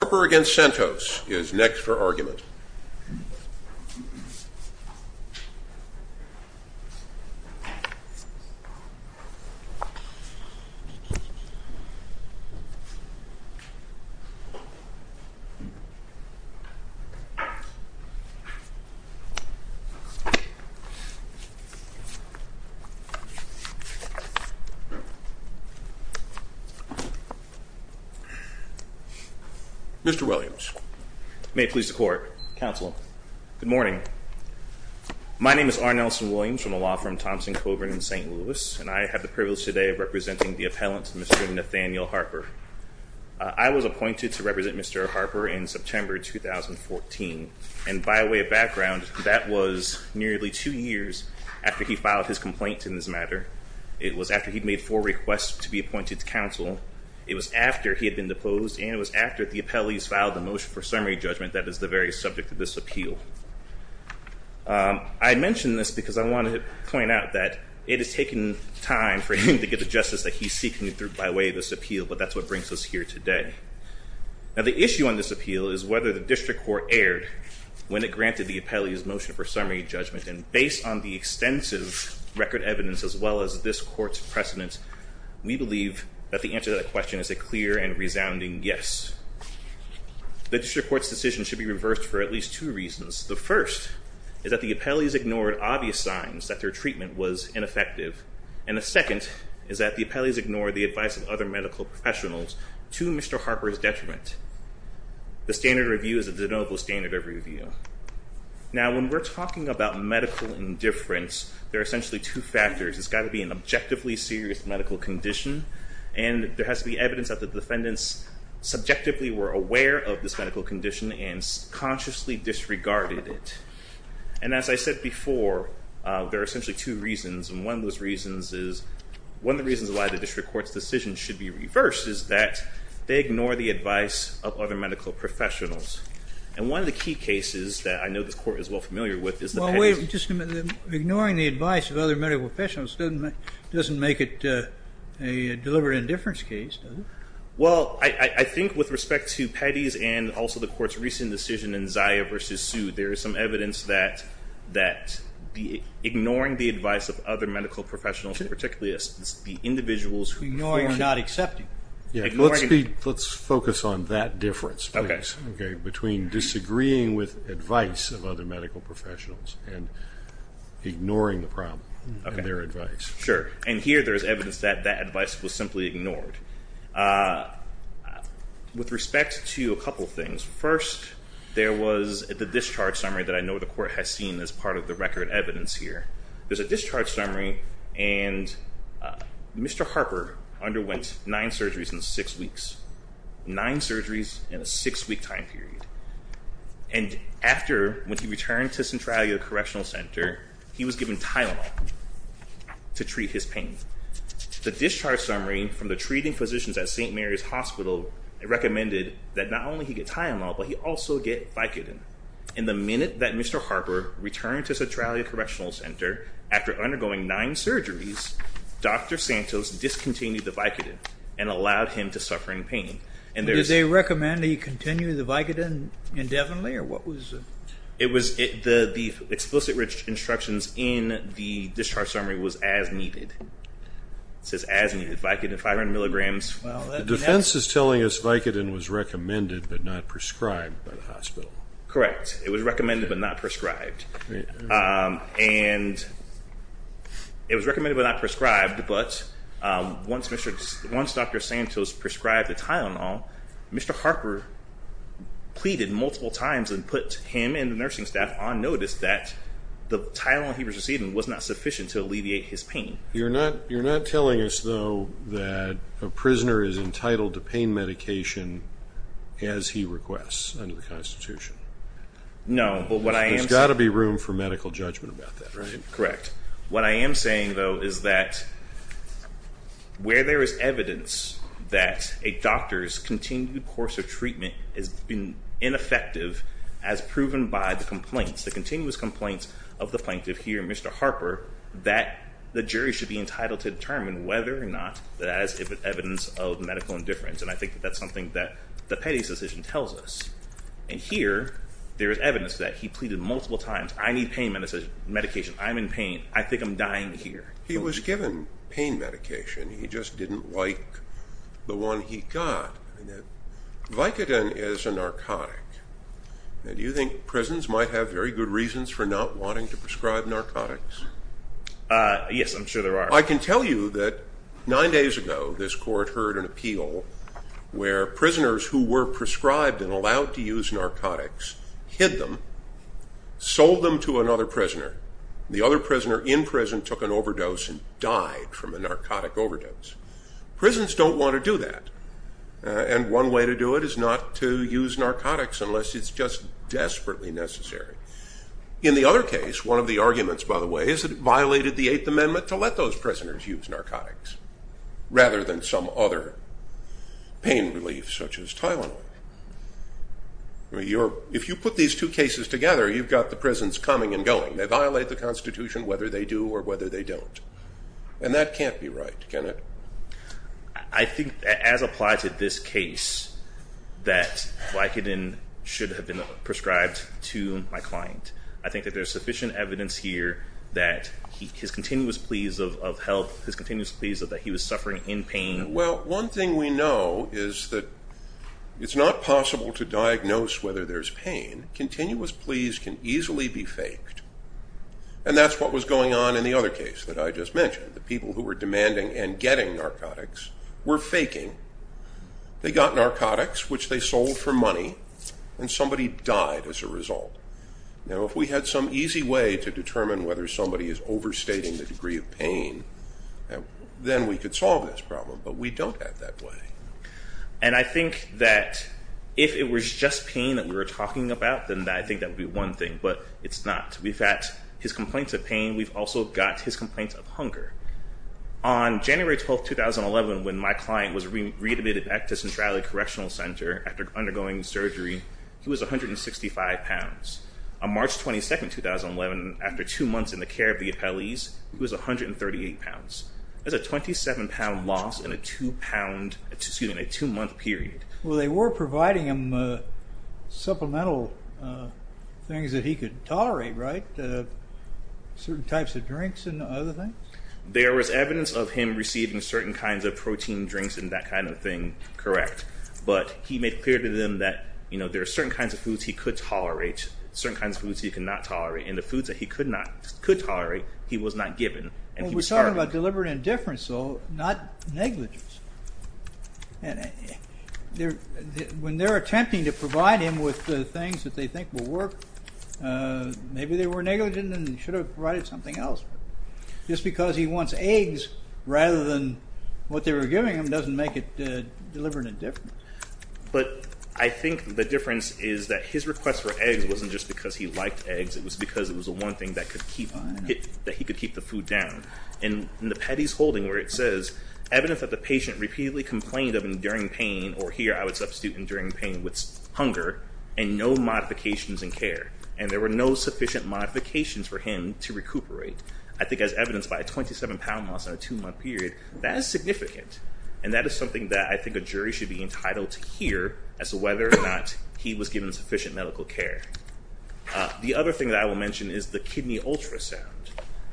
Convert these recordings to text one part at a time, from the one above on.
Harper v. Santos is next for argument. Mr. Williams. May it please the court. Counsel. Good morning. My name is R. Nelson Williams from the law firm Thompson, Coburn, and St. Louis. And I have the privilege today of representing the appellant, Mr. Nathaniel Harper. I was appointed to represent Mr. Harper in September 2014. And by way of background, that was nearly two years after he filed his complaint in this matter. It was after he'd made four requests to be appointed to counsel. It was after he had been deposed. And it was after the appellees filed the motion for summary judgment that is the very subject of this appeal. I mention this because I want to point out that it has taken time for him to get the justice that he's seeking by way of this appeal. But that's what brings us here today. Now the issue on this appeal is whether the district court erred when it granted the appellee's motion for summary judgment. And based on the extensive record evidence, as well as this court's precedence, we believe that the answer to that question is a clear and resounding yes. The district court's decision should be reversed for at least two reasons. The first is that the appellees ignored obvious signs that their treatment was ineffective. And the second is that the appellees ignored the advice of other medical professionals to Mr. Harper's detriment. The standard review is a de novo standard of review. Now when we're talking about medical indifference, there are essentially two factors. It's got to be an objectively serious medical condition. And there has to be evidence that the defendants subjectively were aware of this medical condition and consciously disregarded it. And as I said before, there are essentially two reasons. And one of those reasons is, one of the reasons why the district court's decision should be reversed is that they ignore the advice of other medical professionals. And one of the key cases that I know this court is well familiar with is the penalty. Well, wait a minute. Ignoring the advice of other medical professionals doesn't make it a deliberate indifference case, does it? Well, I think with respect to Petty's and also the court's recent decision in Zia versus Sue, there is some evidence that ignoring the advice of other medical professionals, particularly the individuals who performed. Ignoring is not accepting. Let's focus on that difference, please, between disagreeing with advice of other medical professionals and ignoring the problem in their advice. Sure. And here there is evidence that that advice was simply ignored. With respect to a couple things, first, there was the discharge summary that I know the court has seen as part of the record evidence here. There's a discharge summary, and Mr. Harper underwent nine surgeries in six weeks. Nine surgeries in a six-week time period. And after, when he returned to Centralia Correctional Center, he was given Tylenol to treat his pain. The discharge summary from the treating physicians at St. Mary's Hospital recommended that not only he get Tylenol, but he also get Vicodin. In the minute that Mr. Harper returned to Centralia Correctional Center, after undergoing nine surgeries, Dr. Santos discontinued the Vicodin and allowed him to suffer in pain. Did they recommend that he continue the Vicodin indefinitely, or what was the? It was the explicit instructions in the discharge summary was as needed. It says as needed, Vicodin 500 milligrams. Defense is telling us Vicodin was recommended but not prescribed by the hospital. Correct. It was recommended but not prescribed. And it was recommended but not prescribed, but once Dr. Santos prescribed the Tylenol, Mr. Harper pleaded multiple times and put him and the nursing staff on notice that the Tylenol he was receiving was not sufficient to alleviate his pain. You're not telling us, though, that a prisoner is entitled to pain medication as he requests under the Constitution? No, but what I am saying... There's got to be room for medical judgment about that, right? Correct. What I am saying, though, is that where there is evidence that a doctor's continued course of treatment has been ineffective as proven by the complaints, the continuous complaints of the plaintiff here, Mr. Harper, that the jury should be entitled to determine whether or not that as evidence of medical indifference. And I think that's something that the Petty's decision tells us. And here, there is evidence that he pleaded multiple times. I need pain medication. I'm in pain. I think I'm dying here. He was given pain medication. He just didn't like the one he got. Vicodin is a narcotic. Do you think prisons might have very good reasons for not wanting to prescribe narcotics? Yes, I'm sure there are. I can tell you that nine days ago, this court heard an appeal where prisoners who were prescribed and allowed to use narcotics hid them, sold them to another prisoner. The other prisoner in prison took an overdose and died from a narcotic overdose. Prisons don't want to do that. And one way to do it is not to use narcotics unless it's just desperately necessary. In the other case, one of the arguments, by the way, is that it violated the Eighth Amendment to let those prisoners use narcotics rather than some other pain relief such as Tylenol. If you put these two cases together, you've got the prisons coming and going. They violate the Constitution whether they do or whether they don't. And that can't be right, can it? I think, as applied to this case, that Vicodin should have been prescribed to my client. I think that there's sufficient evidence here that his continuous pleas of help, his continuous pleas that he was suffering in pain... Well, one thing we know is that it's not possible to diagnose whether there's pain. Continuous pleas can easily be faked. And that's what was going on in the other case that I just mentioned. The people who were demanding and getting narcotics were faking. They got narcotics, which they sold for money, and somebody died as a result. Now, if we had some easy way to determine whether somebody is overstating the degree of pain, then we could solve this problem. But we don't have that way. And I think that if it was just pain that we were talking about, then I think that would be one thing. But it's not. We've got his complaints of pain. We've also got his complaints of hunger. On January 12, 2011, when my client was readmitted back to Centralia Correctional Center after undergoing surgery, he was 165 pounds. On March 22, 2011, after 2 months in the care of the appellees, he was 138 pounds. That's a 27-pound loss in a 2-month period. Well, they were providing him supplemental things that he could tolerate, right? Certain types of drinks and other things? There was evidence of him receiving certain kinds of protein drinks and that kind of thing, correct. But he made clear to them that there are certain kinds of foods he could tolerate, certain kinds of foods he could not tolerate, and the foods that he could tolerate, he was not given. We're talking about deliberate indifference, though, not negligence. When they're attempting to provide him with things that they think will work, maybe they were negligent and should have provided something else. Just because he wants eggs rather than what they were giving him doesn't make it deliberate indifference. But I think the difference is that his request for eggs wasn't just because he liked eggs. It was because it was the one thing that he could keep the food down. In the Petty's holding where it says, evidence that the patient repeatedly complained of enduring pain, or here I would substitute enduring pain with hunger, and no modifications in care. And there were no sufficient modifications for him to recuperate. I think as evidenced by a 27-pound loss in a 2-month period, that is significant. And that is something that I think a jury should be entitled to hear as to whether or not he was given sufficient medical care. The other thing that I will mention is the kidney ultrasound.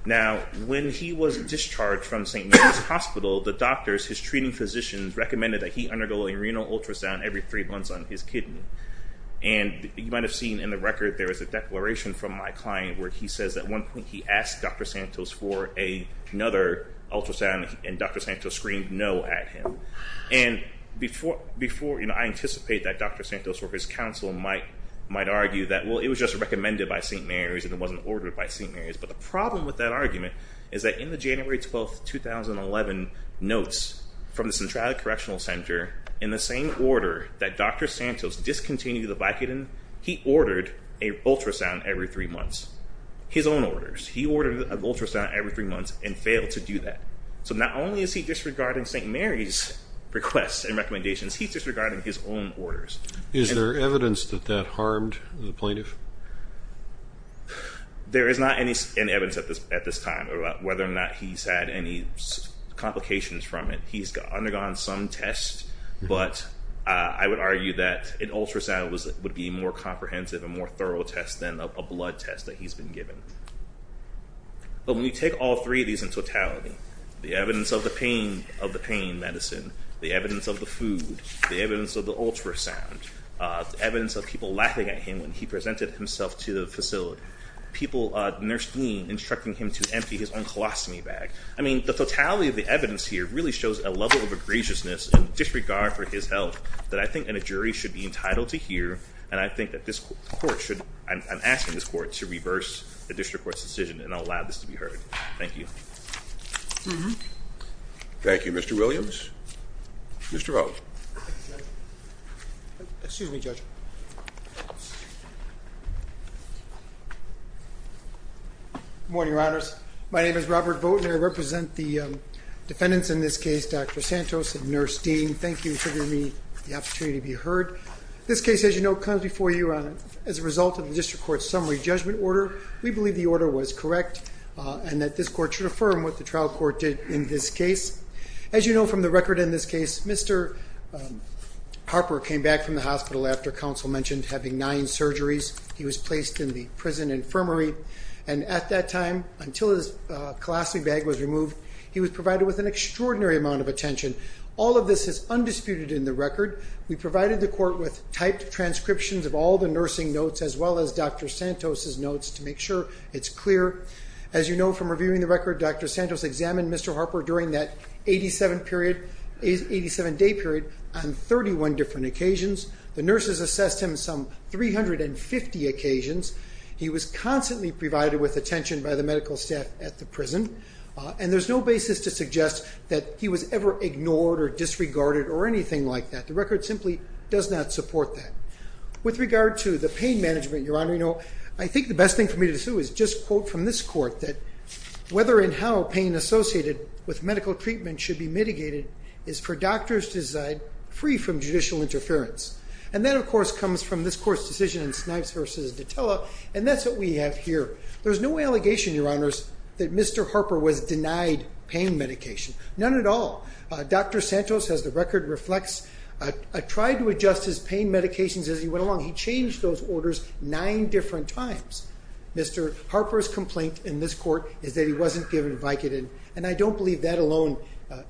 Now, when he was discharged from St. Mary's Hospital, the doctors, his treating physicians, recommended that he undergo a renal ultrasound every three months on his kidney. And you might have seen in the record, there was a declaration from my client where he says at one point he asked Dr. Santos for another ultrasound, and Dr. Santos screamed no at him. And I anticipate that Dr. Santos or his counsel might argue that, well, it was just recommended by St. Mary's and it wasn't ordered by St. Mary's. But the problem with that argument is that in the January 12, 2011 notes from the Centralia Correctional Center, in the same order that Dr. Santos discontinued the Vicodin, he ordered an ultrasound every three months, his own orders. He ordered an ultrasound every three months and failed to do that. So not only is he disregarding St. Mary's requests and recommendations, he's disregarding his own orders. Is there evidence that that harmed the plaintiff? There is not any evidence at this time about whether or not he's had any complications from it. He's undergone some tests, but I would argue that an ultrasound would be a more comprehensive and more thorough test than a blood test that he's been given. But when you take all three of these in totality, the evidence of the pain medicine, the evidence of the food, the evidence of the ultrasound, the evidence of people laughing at him when he presented himself to the facility, people at Nurse Dean instructing him to empty his own colostomy bag. I mean, the totality of the evidence here really shows a level of egregiousness and disregard for his health that I think a jury should be entitled to hear, and I think that this court should, I'm asking this court to reverse the district court's decision and allow this to be heard. Thank you. Thank you, Mr. Williams. Mr. O. Excuse me, Judge. Good morning, Your Honors. My name is Robert Vogt, and I represent the defendants in this case, Dr. Santos and Nurse Dean. Thank you for giving me the opportunity to be heard. This case, as you know, comes before you as a result of the district court's summary judgment order. We believe the order was correct and that this court should affirm what the trial court did in this case. As you know from the record in this case, Mr. Harper came back from the hospital after counsel mentioned having nine surgeries. He was placed in the prison infirmary, and at that time, until his colostomy bag was removed, he was provided with an extraordinary amount of attention. All of this is undisputed in the record. We provided the court with typed transcriptions of all the nursing notes as well as Dr. Santos' notes to make sure it's clear. As you know from reviewing the record, Dr. Santos examined Mr. Harper during that 87-day period on 31 different occasions. The nurses assessed him some 350 occasions. He was constantly provided with attention by the medical staff at the prison, and there's no basis to suggest that he was ever ignored or disregarded or anything like that. The record simply does not support that. With regard to the pain management, Your Honor, I think the best thing for me to do is just quote from this court that whether and how pain associated with medical treatment should be mitigated is for doctors to decide free from judicial interference. And that, of course, comes from this court's decision in Snipes v. Detella, and that's what we have here. There's no allegation, Your Honors, that Mr. Harper was denied pain medication, none at all. Dr. Santos, as the record reflects, tried to adjust his pain medications as he went along. He changed those orders nine different times. Mr. Harper's complaint in this court is that he wasn't given Vicodin, and I don't believe that alone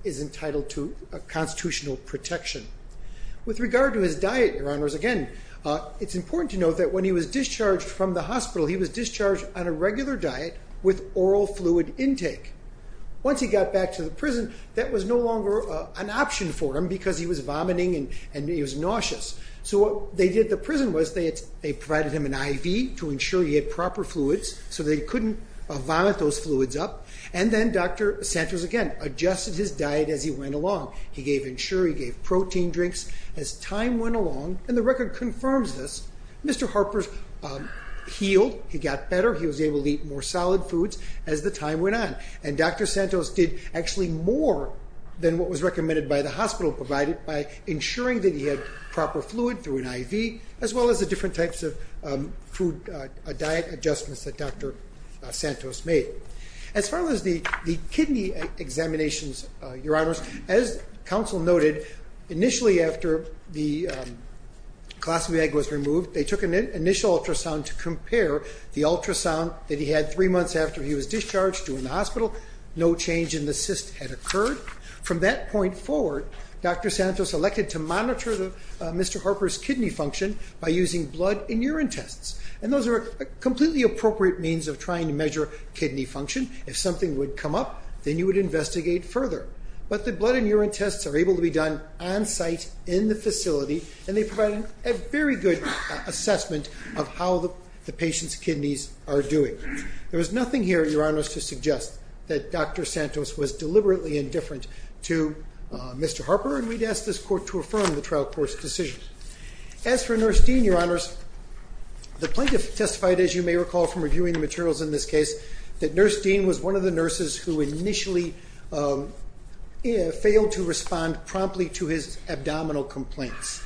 is entitled to constitutional protection. With regard to his diet, Your Honors, again, it's important to note that when he was discharged from the hospital, he was discharged on a regular diet with oral fluid intake. Once he got back to the prison, that was no longer an option for him because he was vomiting and he was nauseous. So what they did at the prison was they provided him an IV to ensure he had proper fluids so that he couldn't vomit those fluids up. And then Dr. Santos again adjusted his diet as he went along. He gave Ensure, he gave protein drinks. As time went along, and the record confirms this, Mr. Harper healed, he got better, he was able to eat more solid foods as the time went on. And Dr. Santos did actually more than what was recommended by the hospital, provide it by ensuring that he had proper fluid through an IV, as well as the different types of food diet adjustments that Dr. Santos made. As far as the kidney examinations, Your Honors, as counsel noted, initially after the colostomy egg was removed, they took an initial ultrasound to compare the ultrasound that he had three months after he was discharged from the hospital. No change in the cyst had occurred. From that point forward, Dr. Santos elected to monitor Mr. Harper's kidney function by using blood and urine tests. And those are a completely appropriate means of trying to measure kidney function. If something would come up, then you would investigate further. But the blood and urine tests are able to be done on-site in the facility, and they provide a very good assessment of how the patient's kidneys are doing. There was nothing here, Your Honors, to suggest that Dr. Santos was deliberately indifferent to Mr. Harper, and we'd ask this court to affirm the trial court's decision. As for Nurse Dean, Your Honors, the plaintiff testified, as you may recall from reviewing the materials in this case, that Nurse Dean was one of the nurses who initially failed to respond promptly to his abdominal complaints.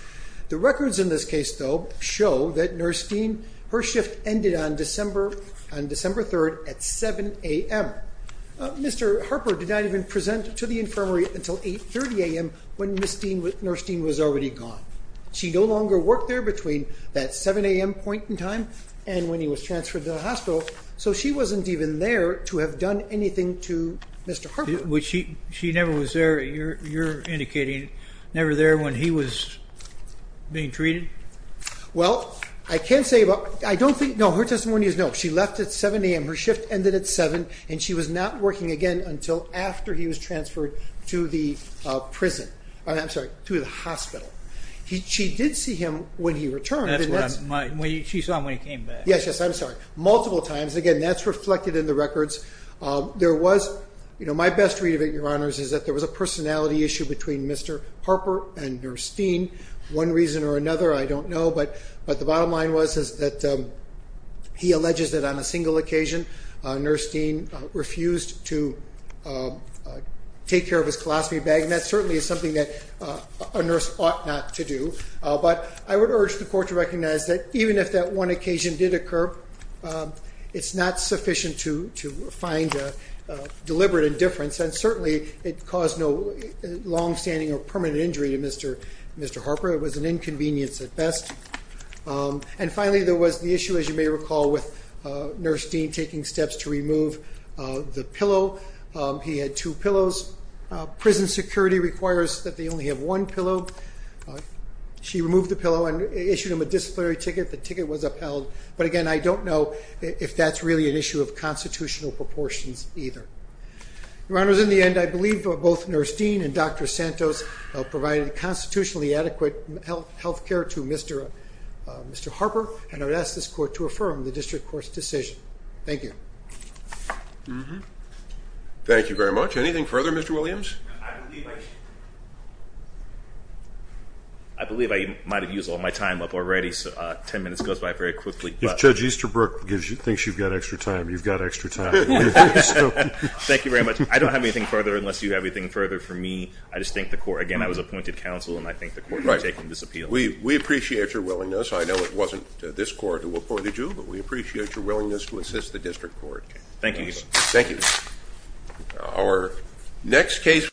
The records in this case, though, show that Nurse Dean, her shift ended on December 3rd at 7 a.m. Mr. Harper did not even present to the infirmary until 8.30 a.m. when Nurse Dean was already gone. She no longer worked there between that 7 a.m. point in time and when he was transferred to the hospital, so she wasn't even there to have done anything to Mr. Harper. She never was there, you're indicating, never there when he was being treated? Well, I can't say about – I don't think – no, her testimony is no. She left at 7 a.m. Her shift ended at 7, and she was not working again until after he was transferred to the hospital. She did see him when he returned. She saw him when he came back. Yes, yes, I'm sorry. Multiple times. Again, that's reflected in the records. My best read of it, Your Honors, is that there was a personality issue between Mr. Harper and Nurse Dean. One reason or another, I don't know, but the bottom line was that he alleges that on a single occasion Nurse Dean refused to take care of his colostomy bag, and that certainly is something that a nurse ought not to do. But I would urge the Court to recognize that even if that one occasion did occur, it's not sufficient to find a deliberate indifference, and certainly it caused no longstanding or permanent injury to Mr. Harper. It was an inconvenience at best. And finally, there was the issue, as you may recall, with Nurse Dean taking steps to remove the pillow. He had two pillows. Prison security requires that they only have one pillow. She removed the pillow and issued him a disciplinary ticket. The ticket was upheld. But again, I don't know if that's really an issue of constitutional proportions either. Your Honors, in the end, I believe both Nurse Dean and Dr. Santos provided constitutionally adequate health care to Mr. Harper, and I would ask this Court to affirm the district court's decision. Thank you. Thank you very much. Anything further, Mr. Williams? I believe I might have used all my time up already, so 10 minutes goes by very quickly. If Judge Easterbrook thinks you've got extra time, you've got extra time. Thank you very much. I don't have anything further unless you have anything further for me. I just thank the Court. Again, I was appointed counsel, and I thank the Court for taking this appeal. We appreciate your willingness. I know it wasn't this Court who appointed you, but we appreciate your willingness to assist the district court. Thank you. Thank you.